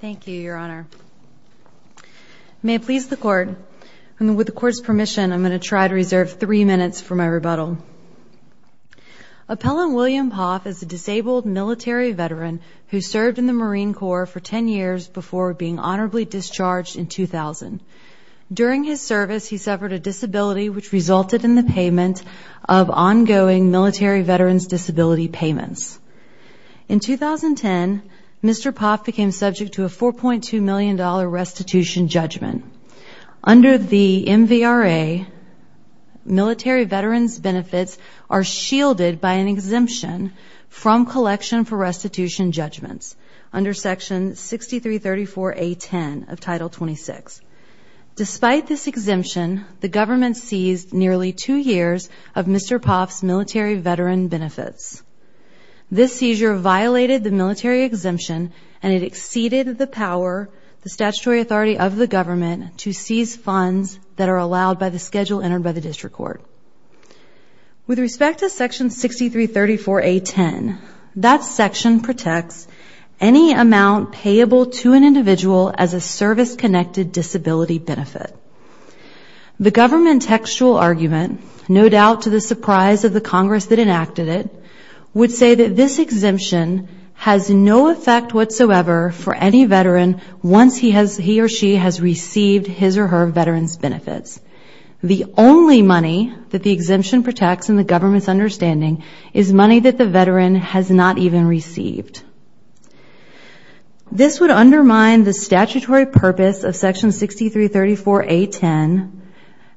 Thank you, Your Honor. May it please the Court, and with the Court's permission, I'm going to try to reserve three minutes for my rebuttal. Appellant William Poff is a disabled military veteran who served in the Marine Corps for ten years before being honorably discharged in 2000. During his service, he suffered a disability which resulted in the payment of ongoing military veterans' disability payments. In 2010, Mr. Poff became subject to a $4.2 million restitution judgment. Under the MVRA, military veterans' benefits are shielded by an exemption from collection for restitution judgments under Section 6334A-10 of Title 26. Despite this exemption, the government seized nearly two years of Mr. Poff's military veteran benefits. This seizure violated the military exemption and it exceeded the power, the statutory authority of the government, to seize funds that are allowed by the schedule entered by the District Court. With respect to Section 6334A-10, that section protects any amount payable to an individual as a service-connected disability benefit. The government textual argument, no doubt to the surprise of the Congress that enacted it, would say that this exemption has no effect whatsoever for any veteran once he or she has received his or her veteran's benefits. The only money that the exemption protects, in the government's understanding, is money that the veteran has not even received. This would undermine the statutory purpose of Section 6334A-10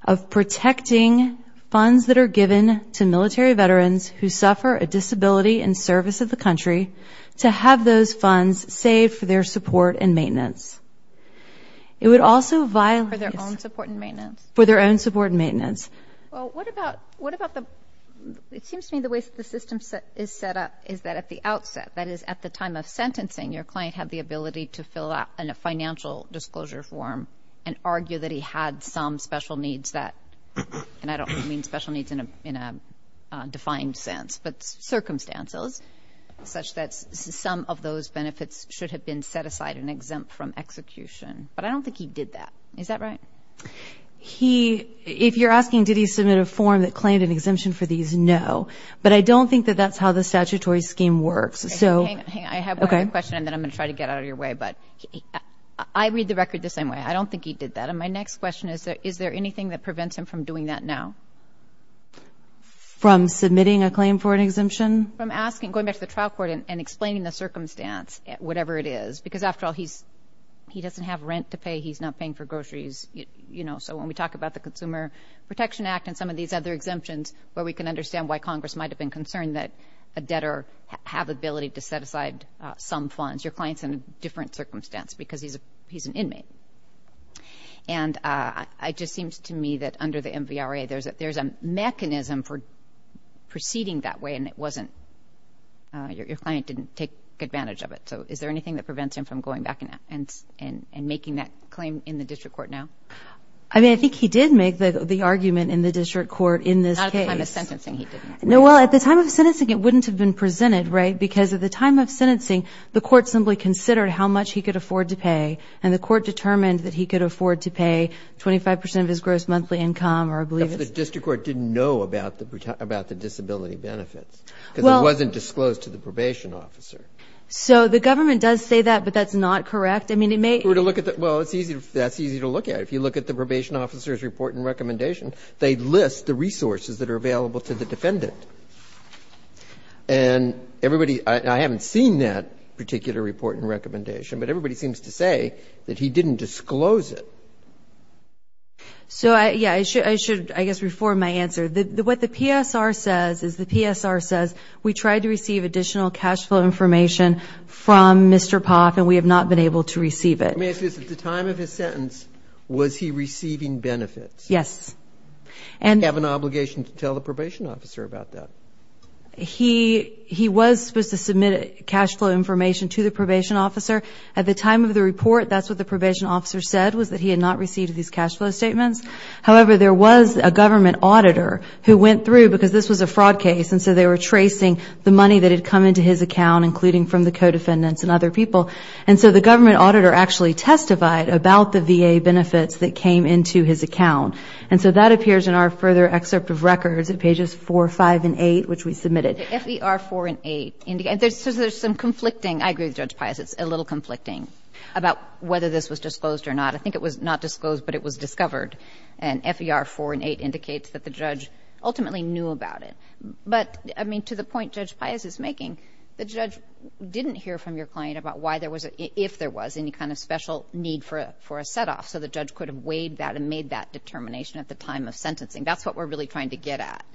of protecting funds that are given to military veterans who suffer a disability in service of the country to have those funds saved for their support and maintenance. It would also violate... For their own support and maintenance. For their own support and maintenance. Well, what about, what about the, it seems to me the way the system is set up is that at the outset, that is at the time of sentencing, your client had the ability to fill out a financial disclosure form and argue that he had some special needs that, and I don't mean special needs in a defined sense, but circumstances such that some of those benefits should have been set aside and exempt from execution. But I don't think he did that. Is that right? He, if you're asking did he submit a form that claimed an exemption for these, no. But I don't think that that's how the statutory scheme works. Hang on, hang on. I have one other question and then I'm going to try to get out of your way. But I read the record the same way. I don't think he did that. And my next question is, is there anything that prevents him from doing that now? From submitting a claim for an exemption? From asking, going back to the trial court and explaining the circumstance, whatever it is. Because after all, he's, he doesn't have rent to pay. He's not paying for groceries. You know, so when we talk about the Consumer Protection Act and some of these other exemptions where we can understand why Congress might have been concerned that a debtor have the ability to set aside some funds. Your client's in a different circumstance because he's an inmate. And it just seems to me that under the MVRA there's a mechanism for proceeding that way and it wasn't, your client didn't take advantage of it. So is there anything that prevents him from going back and making that claim in the district court now? I mean, I think he did make the argument in the district court in this case. Not at the time of sentencing he didn't. No, well, at the time of sentencing it wouldn't have been presented, right? Because at the time of sentencing the court simply considered how much he could afford to pay and the court determined that he could afford to pay 25% of his gross monthly income or I believe it's. The district court didn't know about the disability benefits. Well. Because it wasn't disclosed to the probation officer. So the government does say that, but that's not correct. I mean, it may. Well, it's easy, that's easy to look at. If you look at the probation officer's report and recommendation, they list the resources that are available to the defendant. And everybody, I haven't seen that particular report and recommendation, but everybody seems to say that he didn't disclose it. So, yeah, I should, I guess, reform my answer. What the PSR says is the PSR says we tried to receive additional cash flow information from Mr. Poff and we have not been able to receive it. Let me ask you this. At the time of his sentence was he receiving benefits? Yes. Did he have an obligation to tell the probation officer about that? He was supposed to submit cash flow information to the probation officer. At the time of the report, that's what the probation officer said was that he had not received these cash flow statements. However, there was a government auditor who went through, because this was a fraud case, and so they were tracing the money that had come into his account, including from the co-defendants and other people. And so the government auditor actually testified about the VA benefits that came into his account. And so that appears in our further excerpt of records at pages 4, 5, and 8, which we submitted. FER4 and 8, there's some conflicting. I agree with Judge Pius. It's a little conflicting about whether this was disclosed or not. I think it was not disclosed, but it was discovered. And FER4 and 8 indicates that the judge ultimately knew about it. But, I mean, to the point Judge Pius is making, the judge didn't hear from your client about why there was, if there was any kind of special need for a set-off, so the judge could have weighed that and made that determination at the time of sentencing. That's what we're really trying to get at,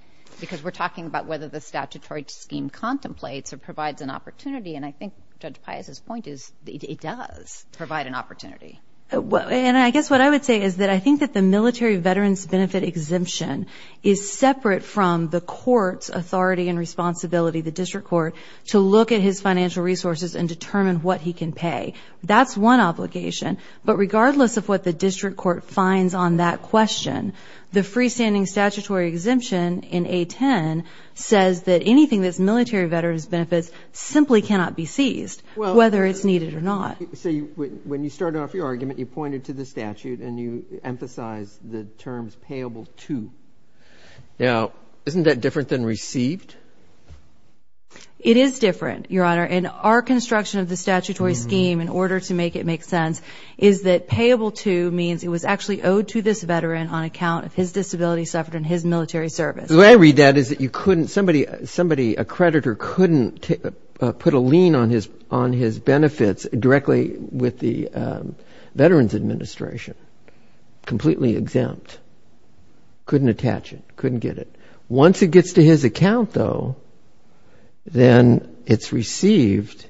because we're talking about whether the statutory scheme contemplates or provides an opportunity, and I think Judge Pius's point is it does provide an opportunity. And I guess what I would say is that I think that the military veterans' benefit exemption is separate from the court's authority and responsibility, the district court, to look at his financial resources and determine what he can pay. That's one obligation. But regardless of what the district court finds on that question, the freestanding statutory exemption in A10 says that anything that's military veterans' benefits simply cannot be seized, whether it's needed or not. So when you started off your argument, you pointed to the statute and you emphasized the terms payable to. Now, isn't that different than received? It is different, Your Honor. And our construction of the statutory scheme, in order to make it make sense, is that payable to means it was actually owed to this veteran on account of his disability suffered in his military service. The way I read that is that somebody, a creditor, couldn't put a lien on his benefits directly with the Veterans Administration, completely exempt, couldn't attach it, couldn't get it. Once it gets to his account, though, then it's received,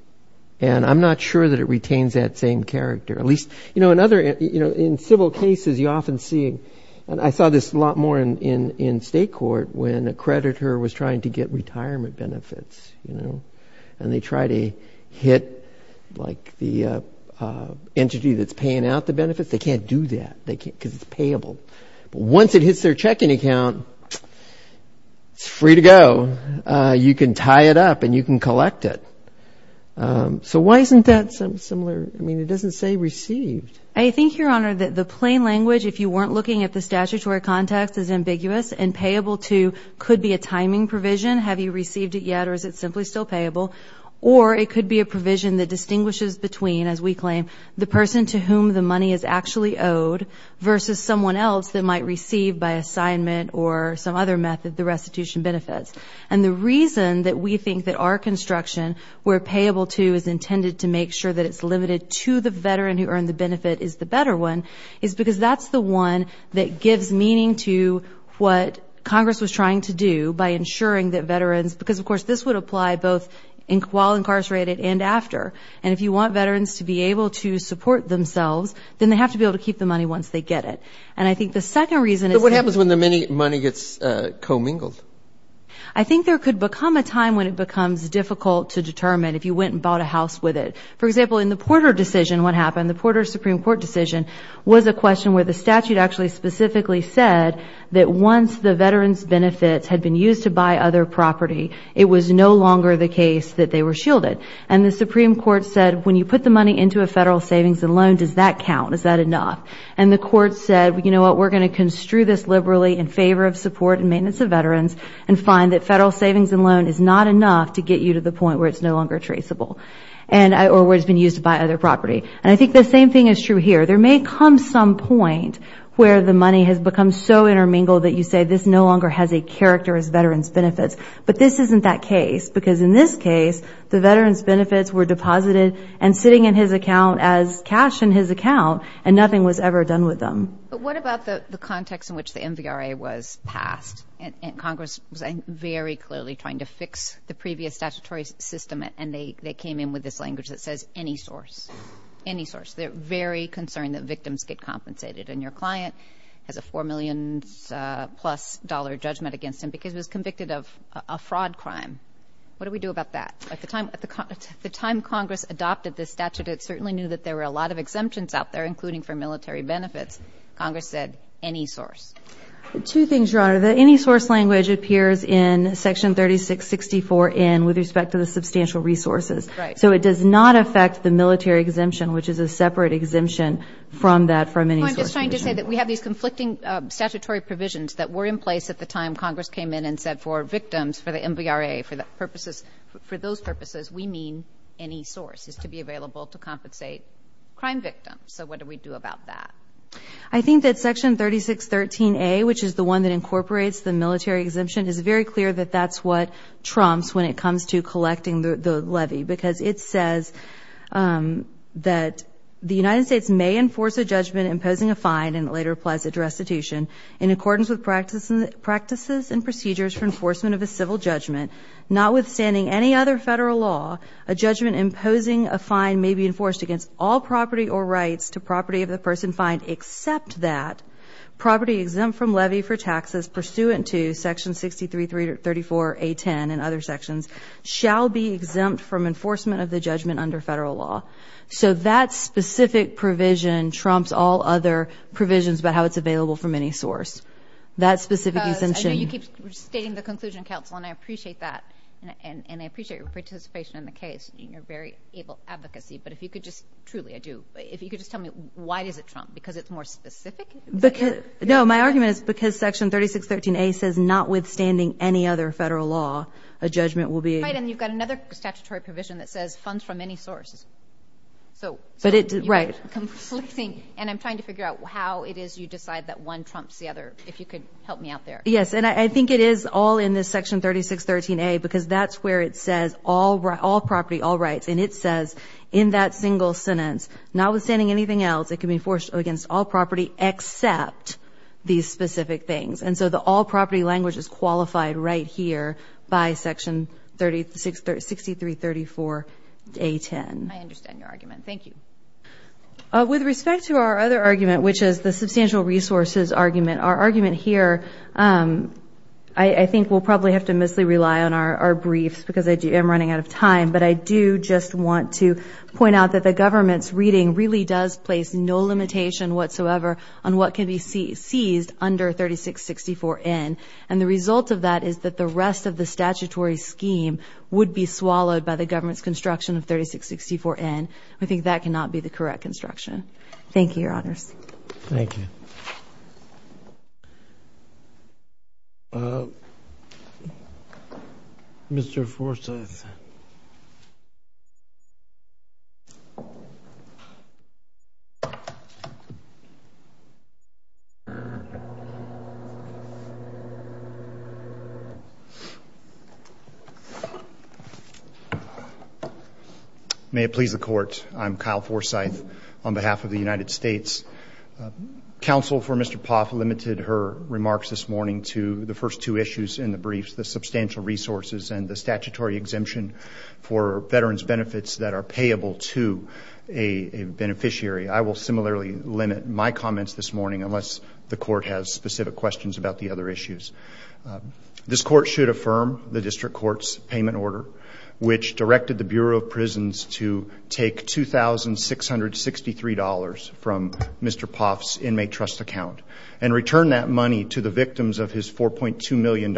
and I'm not sure that it retains that same character. At least, you know, in civil cases, you often see, and I saw this a lot more in state court, when a creditor was trying to get retirement benefits, you know, and they try to hit, like, the entity that's paying out the benefits. They can't do that because it's payable. But once it hits their checking account, it's free to go. You can tie it up, and you can collect it. So why isn't that similar? I mean, it doesn't say received. I think, Your Honor, that the plain language, if you weren't looking at the statutory context, is ambiguous, and payable to could be a timing provision, have you received it yet or is it simply still payable, or it could be a provision that distinguishes between, as we claim, the person to whom the money is actually owed versus someone else that might receive by assignment or some other method the restitution benefits. And the reason that we think that our construction, where payable to is intended to make sure that it's limited to the veteran who earned the benefit is the better one, is because that's the one that gives meaning to what Congress was trying to do by ensuring that veterans, because, of course, this would apply both while incarcerated and after, and if you want veterans to be able to support themselves, then they have to be able to keep the money once they get it. And I think the second reason is that... But what happens when the money gets commingled? I think there could become a time when it becomes difficult to determine if you went and bought a house with it. For example, in the Porter decision, what happened, the Porter Supreme Court decision was a question where the statute actually specifically said that once the veteran's benefits had been used to buy other property, it was no longer the case that they were shielded. And the Supreme Court said when you put the money into a federal savings and loan, does that count, is that enough? And the court said, you know what, we're going to construe this liberally in favor of support and maintenance of veterans and find that federal savings and loan is not enough to get you to the point where it's no longer traceable or where it's been used to buy other property. And I think the same thing is true here. There may come some point where the money has become so intermingled that you say this no longer has a character as veterans' benefits, but this isn't that case, because in this case, the veterans' benefits were deposited and sitting in his account as cash in his account and nothing was ever done with them. But what about the context in which the MVRA was passed and Congress was very clearly trying to fix the previous statutory system and they came in with this language that says any source, any source. They're very concerned that victims get compensated. And your client has a $4 million-plus judgment against him because he was convicted of a fraud crime. What do we do about that? At the time Congress adopted this statute, it certainly knew that there were a lot of exemptions out there, including for military benefits. Congress said any source. Two things, Your Honor. The any source language appears in Section 3664N with respect to the substantial resources. Right. So it does not affect the military exemption, which is a separate exemption from that from any source provision. No, I'm just trying to say that we have these conflicting statutory provisions that were in place at the time Congress came in and said for victims, for the MVRA, for those purposes, we mean any source is to be available to compensate crime victims. So what do we do about that? I think that Section 3613A, which is the one that incorporates the military exemption, is very clear that that's what trumps when it comes to collecting the levy because it says that the United States may enforce a judgment imposing a fine and it later applies it to restitution in accordance with practices and procedures for enforcement of a civil judgment, notwithstanding any other federal law, a judgment imposing a fine may be enforced against all property or rights to property of the person fined except that property exempt from levy for taxes pursuant to Section 6334A10 and other sections shall be exempt from enforcement of the judgment under federal law. So that specific provision trumps all other provisions about how it's available from any source. I know you keep stating the Conclusion Council, and I appreciate that, and I appreciate your participation in the case and your very able advocacy, but if you could just truly, I do, if you could just tell me why does it trump? Because it's more specific? No, my argument is because Section 3613A says notwithstanding any other federal law, a judgment will be---- Right, and you've got another statutory provision that says funds from any source. So you're conflicting, and I'm trying to figure out how it is you decide that one trumps the other. If you could help me out there. Yes, and I think it is all in this Section 3613A because that's where it says all property, all rights, and it says in that single sentence, notwithstanding anything else, it can be enforced against all property except these specific things. And so the all property language is qualified right here by Section 6334A10. I understand your argument. Thank you. With respect to our other argument, which is the substantial resources argument, our argument here, I think we'll probably have to mostly rely on our briefs because I am running out of time. But I do just want to point out that the government's reading really does place no limitation whatsoever on what can be seized under 3664N. And the result of that is that the rest of the statutory scheme would be swallowed by the government's construction of 3664N. I think that cannot be the correct construction. Thank you, Your Honors. Thank you. Mr. Forsyth. May it please the Court. I'm Kyle Forsyth on behalf of the United States. Counsel for Mr. Poff limited her remarks this morning to the first two issues in the briefs, the substantial resources and the statutory exemption for veterans' benefits that are payable to a beneficiary. I will similarly limit my comments this morning unless the Court has specific questions about the other issues. This Court should affirm the District Court's payment order, which directed the Bureau of Prisons to take $2,663 from Mr. Poff's inmate trust account and return that money to the victims of his $4.2 million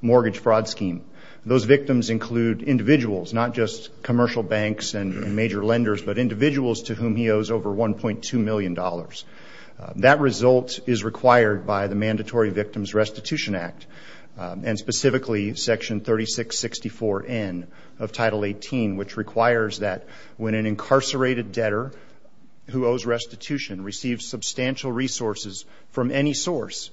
mortgage fraud scheme. Those victims include individuals, not just commercial banks and major lenders, but individuals to whom he owes over $1.2 million. That result is required by the Mandatory Victims Restitution Act, and specifically Section 3664N of Title 18, which requires that when an incarcerated debtor who owes restitution receives substantial resources from any source,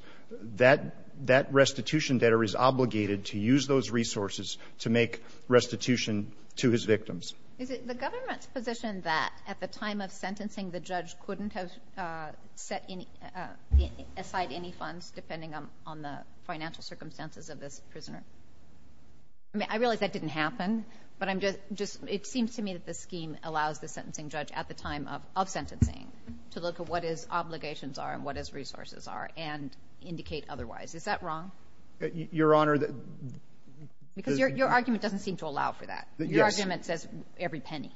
that restitution debtor is obligated to use those resources to make restitution to his victims. Is it the government's position that at the time of sentencing the judge couldn't have set aside any funds, depending on the financial circumstances of this prisoner? I realize that didn't happen, but it seems to me that the scheme allows the sentencing judge at the time of sentencing to look at what his obligations are and what his resources are and indicate otherwise. Is that wrong? Your Honor, the ---- Because your argument doesn't seem to allow for that. Your argument says every penny.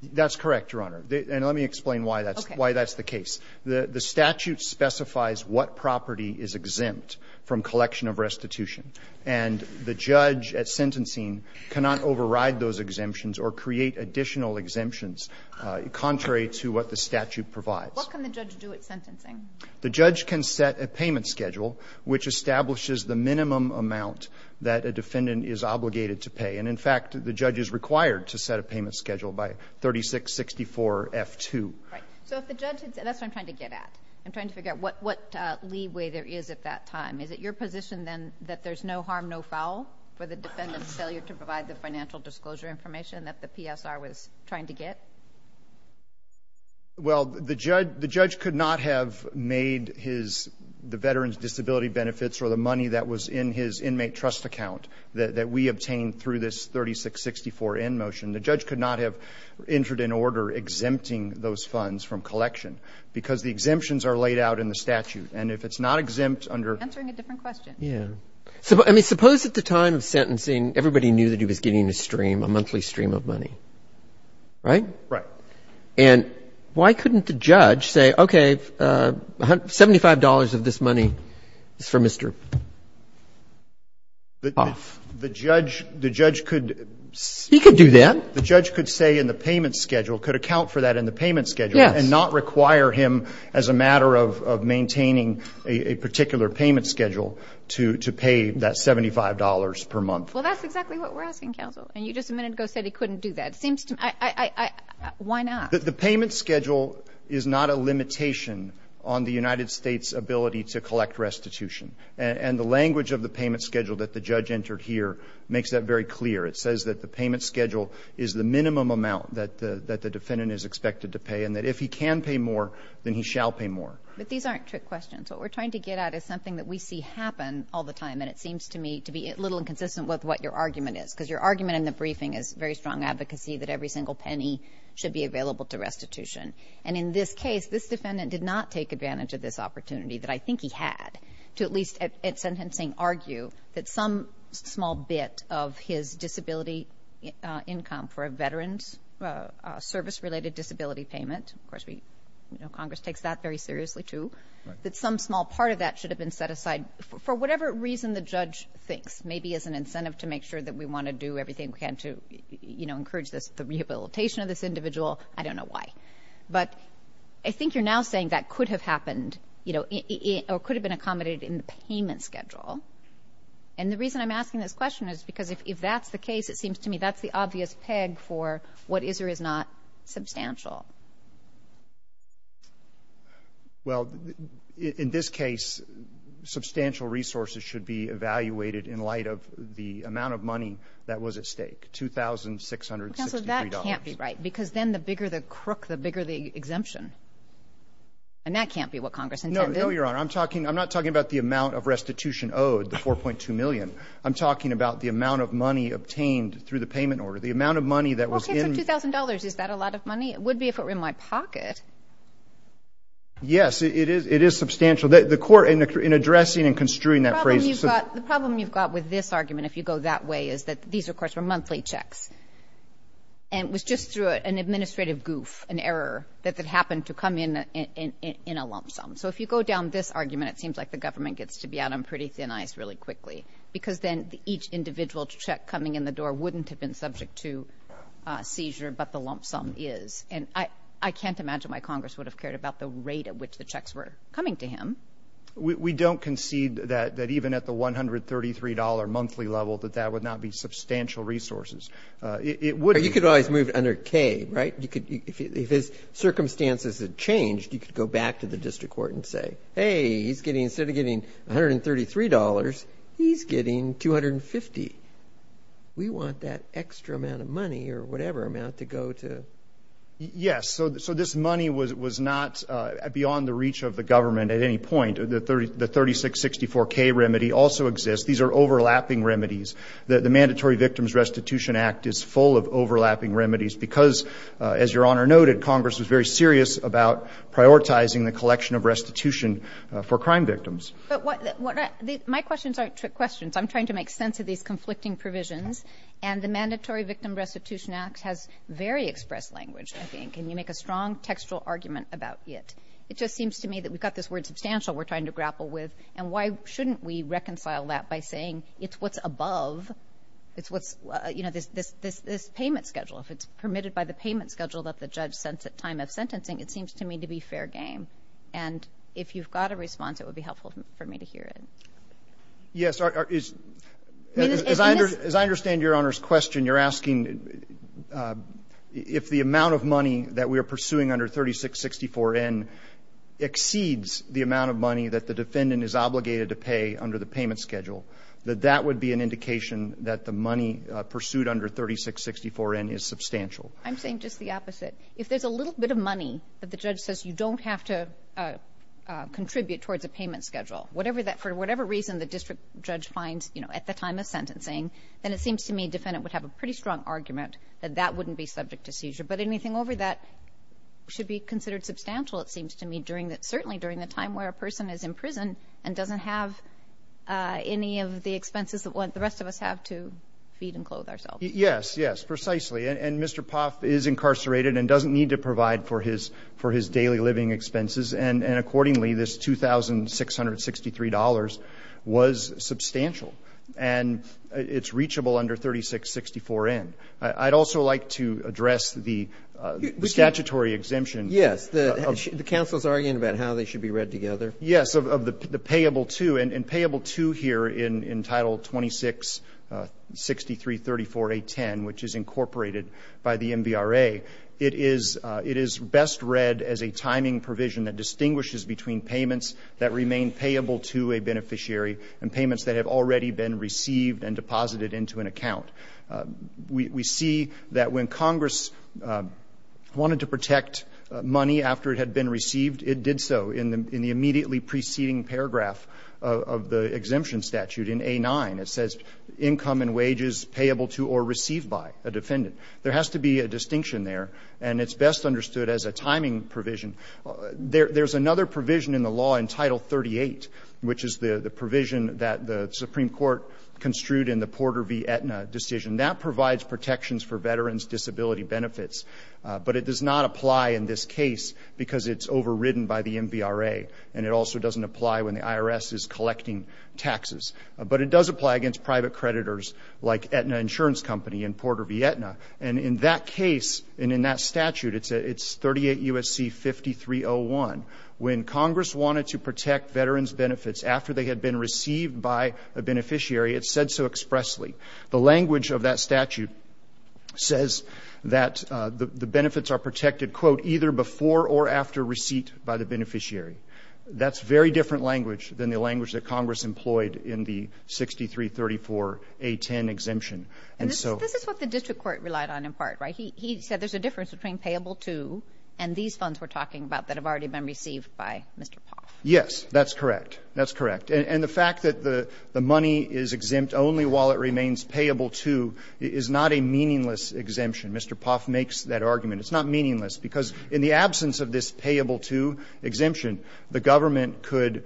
That's correct, Your Honor. And let me explain why that's the case. The statute specifies what property is exempt from collection of restitution, and the judge at sentencing cannot override those exemptions or create additional exemptions contrary to what the statute provides. What can the judge do at sentencing? The judge can set a payment schedule, which establishes the minimum amount that a defendant is obligated to pay. And, in fact, the judge is required to set a payment schedule by 3664F2. Right. So if the judge had ---- that's what I'm trying to get at. I'm trying to figure out what leeway there is at that time. Is it your position then that there's no harm, no foul, for the defendant's failure to provide the financial disclosure information that the PSR was trying to get? Well, the judge could not have made his ---- the veteran's disability benefits or the money that was in his inmate trust account that we obtained through this 3664N motion. The judge could not have entered an order exempting those funds from collection because the exemptions are laid out in the statute. And if it's not exempt under ---- Answering a different question. Yeah. I mean, suppose at the time of sentencing everybody knew that he was getting a stream, a monthly stream of money. Right? Right. And why couldn't the judge say, okay, $75 of this money is for Mr. Hoff? The judge could ---- He could do that. The judge could say in the payment schedule, could account for that in the payment schedule. Yes. And not require him as a matter of maintaining a particular payment schedule to pay that $75 per month. Well, that's exactly what we're asking, counsel. And you just a minute ago said he couldn't do that. It seems to me ---- why not? The payment schedule is not a limitation on the United States' ability to collect restitution. And the language of the payment schedule that the judge entered here makes that very clear. It says that the payment schedule is the minimum amount that the defendant is expected to pay, and that if he can pay more, then he shall pay more. But these aren't trick questions. What we're trying to get at is something that we see happen all the time, and it seems to me to be a little inconsistent with what your argument is, because your argument in the briefing is very strong advocacy that every single penny should be available to restitution. And in this case, this defendant did not take advantage of this opportunity that I think he had to at least at sentencing argue that some small bit of his disability income for a veteran's service-related disability payment, of course Congress takes that very seriously, too, that some small part of that should have been set aside for whatever reason the judge thinks, maybe as an incentive to make sure that we want to do everything we can to, you know, encourage the rehabilitation of this individual. I don't know why. But I think you're now saying that could have happened, you know, or could have been accommodated in the payment schedule. And the reason I'm asking this question is because if that's the case, it seems to me that's the obvious peg for what is or is not substantial. Well, in this case, substantial resources should be evaluated in light of the amount of money that was at stake, $2,663. Counsel, that can't be right, because then the bigger the crook, the bigger the exemption. And that can't be what Congress intended. No, no, Your Honor. I'm not talking about the amount of restitution owed, the $4.2 million. I'm talking about the amount of money obtained through the payment order, the amount of money that was in. Okay, so $2,000, is that a lot of money? It would be if it were in my pocket. Yes, it is substantial. The Court, in addressing and construing that phrase of $2,000. The problem you've got with this argument, if you go that way, is that these, of course, were monthly checks. And it was just through an administrative goof, an error, that that happened to come in in a lump sum. So if you go down this argument, it seems like the government gets to be out on pretty thin ice really quickly, because then each individual check coming in the seizure, but the lump sum is. And I can't imagine why Congress would have cared about the rate at which the checks were coming to him. We don't concede that even at the $133 monthly level, that that would not be substantial resources. You could always move it under K, right? If his circumstances had changed, you could go back to the district court and say, hey, instead of getting $133, he's getting $250. We want that extra amount of money or whatever amount to go to. Yes. So this money was not beyond the reach of the government at any point. The 3664K remedy also exists. These are overlapping remedies. The Mandatory Victims Restitution Act is full of overlapping remedies, because, as Your Honor noted, Congress was very serious about prioritizing the collection of restitution for crime victims. My questions aren't trick questions. I'm trying to make sense of these conflicting provisions. And the Mandatory Victim Restitution Act has very expressed language, I think, and you make a strong textual argument about it. It just seems to me that we've got this word substantial we're trying to grapple with, and why shouldn't we reconcile that by saying it's what's above this payment schedule? If it's permitted by the payment schedule that the judge sent at time of sentencing, it seems to me to be fair game. And if you've got a response, it would be helpful for me to hear it. Yes, as I understand Your Honor's question, you're asking if the amount of money that we are pursuing under 3664N exceeds the amount of money that the defendant is obligated to pay under the payment schedule, that that would be an indication that the money pursued under 3664N is substantial. I'm saying just the opposite. If there's a little bit of money that the judge says you don't have to contribute towards a payment schedule, for whatever reason the district judge finds at the time of sentencing, then it seems to me defendant would have a pretty strong argument that that wouldn't be subject to seizure. But anything over that should be considered substantial, it seems to me, certainly during the time where a person is in prison and doesn't have any of the expenses that the rest of us have to feed and clothe ourselves. Yes, yes, precisely. And Mr. Poff is incarcerated and doesn't need to provide for his daily living expenses, and accordingly this $2,663 was substantial. And it's reachable under 3664N. I'd also like to address the statutory exemption. Yes. The counsel is arguing about how they should be read together. Yes, of the payable to, and payable to here in Title 266334A10, which is incorporated by the MVRA, it is best read as a timing provision that distinguishes between payments that remain payable to a beneficiary and payments that have already been received and deposited into an account. We see that when Congress wanted to protect money after it had been received, it did so in the immediately preceding paragraph of the exemption statute in A9. It says income and wages payable to or received by a defendant. There has to be a distinction there, and it's best understood as a timing provision. There's another provision in the law in Title 38, which is the provision that the Supreme Court construed in the Porter v. Aetna decision. That provides protections for veterans' disability benefits, but it does not apply in this case because it's overridden by the MVRA, and it also doesn't apply when the IRS is collecting taxes. But it does apply against private creditors like Aetna Insurance Company and Porter v. Aetna. And in that case, and in that statute, it's 38 U.S.C. 5301. When Congress wanted to protect veterans' benefits after they had been received by a beneficiary, it said so expressly. The language of that statute says that the benefits are protected, quote, either before or after receipt by the beneficiary. That's very different language than the language that Congress employed in the 6334A10 exemption. And so this is what the district court relied on in part, right? He said there's a difference between payable to and these funds we're talking about that have already been received by Mr. Poff. Yes, that's correct. That's correct. And the fact that the money is exempt only while it remains payable to is not a meaningless exemption. Mr. Poff makes that argument. It's not meaningless because in the absence of this payable to exemption, the government could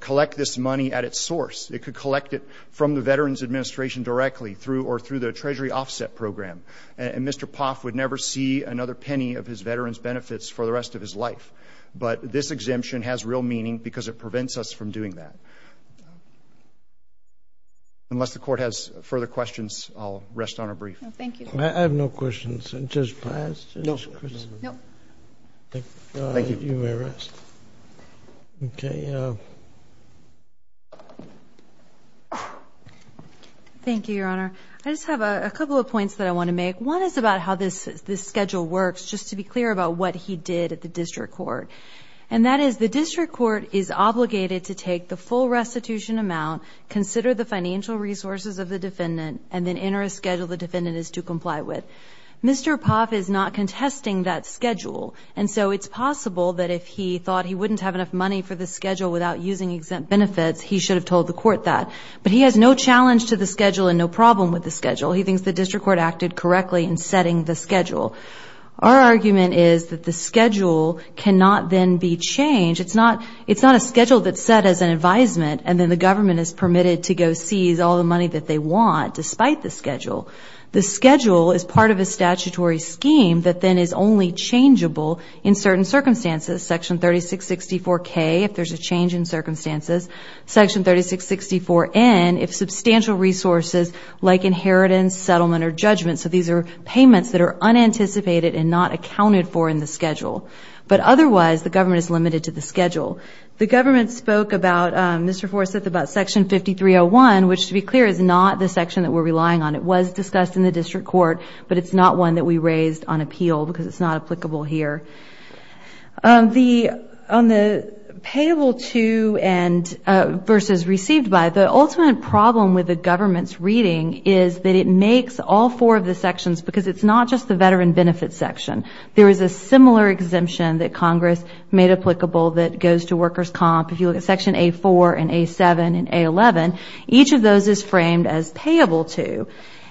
collect this money at its source. It could collect it from the Veterans Administration directly through or through the Treasury Offset Program. And Mr. Poff would never see another penny of his veterans' benefits for the rest of his life. But this exemption has real meaning because it prevents us from doing that. Unless the Court has further questions, I'll rest on a brief. Thank you. I have no questions. I just passed? No. Thank you. You may rest. Okay. Thank you, Your Honor. I just have a couple of points that I want to make. One is about how this schedule works, just to be clear about what he did at the district court. And that is the district court is obligated to take the full restitution amount, consider the financial resources of the defendant, and then enter a schedule the defendant is to comply with. Mr. Poff is not contesting that schedule. And so it's possible that if he thought he wouldn't have enough money for the schedule without using exempt benefits, he should have told the court that. But he has no challenge to the schedule and no problem with the schedule. He thinks the district court acted correctly in setting the schedule. Our argument is that the schedule cannot then be changed. It's not a schedule that's set as an advisement and then the government is permitted to go seize all the money that they want despite the schedule. The schedule is part of a statutory scheme that then is only changeable in certain circumstances. Section 3664K, if there's a change in circumstances. Section 3664N, if substantial resources like inheritance, settlement, or judgment. So these are payments that are unanticipated and not accounted for in the schedule. But otherwise, the government is limited to the schedule. The government spoke about, Mr. Forsyth, about Section 5301, which to be clear is not the section that we're relying on. It was discussed in the district court, but it's not one that we raised on appeal because it's not applicable here. On the payable to versus received by, the ultimate problem with the government's reading is that it makes all four of the sections, because it's not just the veteran benefit section. There is a similar exemption that Congress made applicable that goes to workers' comp. If you look at Section A4 and A7 and A11, each of those is framed as payable to.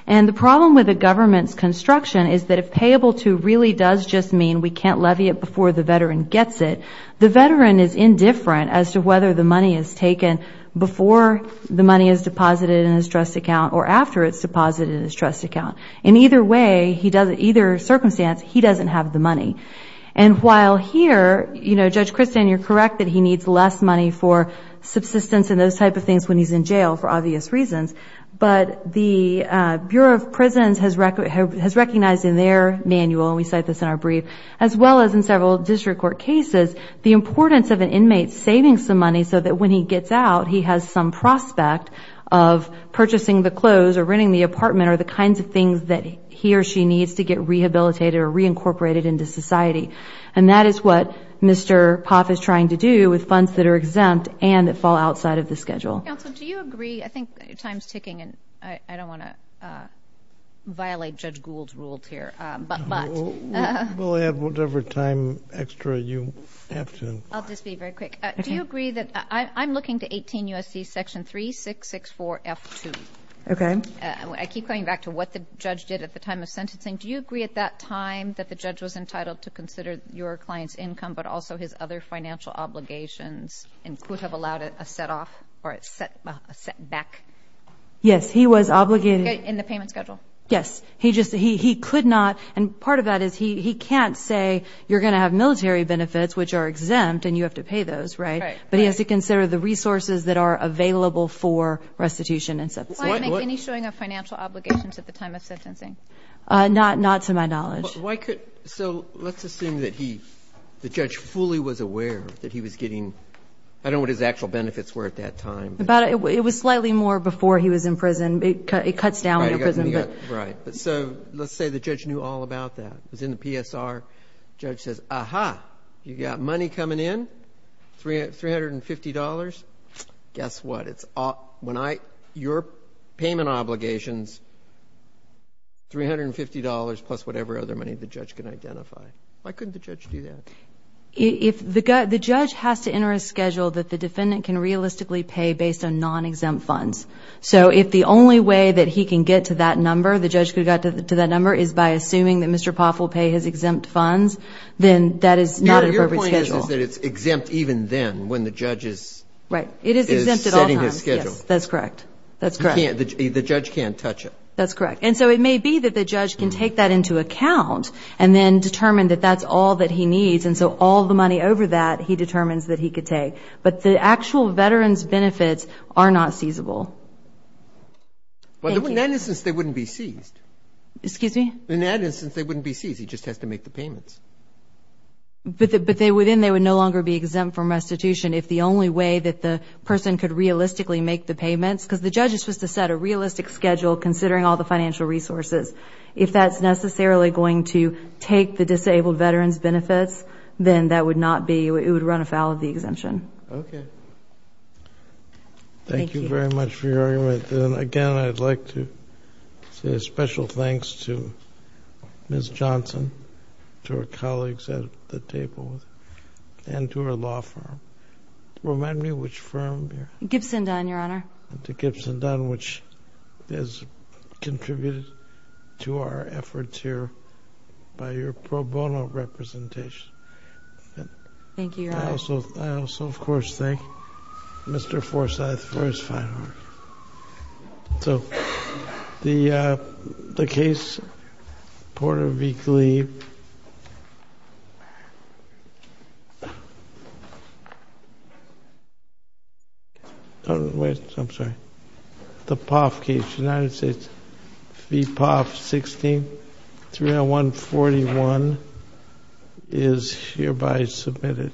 And the problem with the government's construction is that if payable to really does just mean we can't levy it before the veteran gets it, the veteran is indifferent as to whether the money is taken before the money is deposited in his trust account or after it's deposited in his trust account. In either way, either circumstance, he doesn't have the money. And while here, you know, Judge Christin, you're correct that he needs less money for subsistence and those type of things when he's in jail for obvious reasons, but the Bureau of Prisons has recognized in their manual, and we cite this in our brief, as well as in several district court cases, the importance of an inmate saving some money so that when he gets out, he has some prospect of purchasing the clothes or renting the apartment or the kinds of things that he or she needs to get rehabilitated or reincorporated into society. And that is what Mr. Poff is trying to do with funds that are exempt and that fall outside of the schedule. Counsel, do you agree, I think time is ticking and I don't want to violate Judge Gould's rules here, but... We'll have whatever time extra you have to. I'll just be very quick. Do you agree that... I'm looking to 18 U.S.C. section 3664F2. Okay. I keep coming back to what the judge did at the time of sentencing. Do you agree at that time that the judge was entitled to consider your client's income but also his other financial obligations and could have allowed a setback? Yes. He was obligated... In the payment schedule. Yes. He could not. And part of that is he can't say you're going to have military benefits, which are exempt, and you have to pay those, right? Right. But he has to consider the resources that are available for restitution and such. Did the client make any showing of financial obligations at the time of sentencing? Not to my knowledge. So let's assume that the judge fully was aware that he was getting... I don't know what the financial benefits were at that time. It was slightly more before he was in prison. It cuts down in prison. Right. So let's say the judge knew all about that. It was in the PSR. The judge says, Aha! You've got money coming in, $350. Guess what? Your payment obligations, $350 plus whatever other money the judge can identify. Why couldn't the judge do that? If the judge has to enter a schedule that the defendant can realistically pay based on non-exempt funds. So if the only way that he can get to that number, the judge could get to that number, is by assuming that Mr. Poff will pay his exempt funds, then that is not an appropriate schedule. Your point is that it's exempt even then when the judge is... Right. It is exempt at all times.... is setting his schedule. Yes, that's correct. That's correct. The judge can't touch it. That's correct. And so it may be that the judge can take that into account and then determine that that's all that he needs. And so all the money over that, he determines that he could take. But the actual veteran's benefits are not seizable. Thank you. But in that instance, they wouldn't be seized. Excuse me? In that instance, they wouldn't be seized. He just has to make the payments. But then they would no longer be exempt from restitution if the only way that the person could realistically make the payments, because the judge is supposed to set a realistic schedule considering all the financial resources. If that's necessarily going to take the disabled veteran's benefits, then that would not be... it would run afoul of the exemption. Okay. Thank you. Thank you very much for your argument. And again, I'd like to say a special thanks to Ms. Johnson, to her colleagues at the table, and to her law firm. Remind me which firm you're... Gibson Dunn, Your Honor. And to Gibson Dunn, which has contributed to our efforts here by your pro bono representation. Thank you, Your Honor. I also, of course, thank Mr. Forsyth for his fine work. So, the case, Porter v. Glee... Oh, wait, I'm sorry. The Poff case, United States v. Poff, 16, 301-41, is hereby submitted.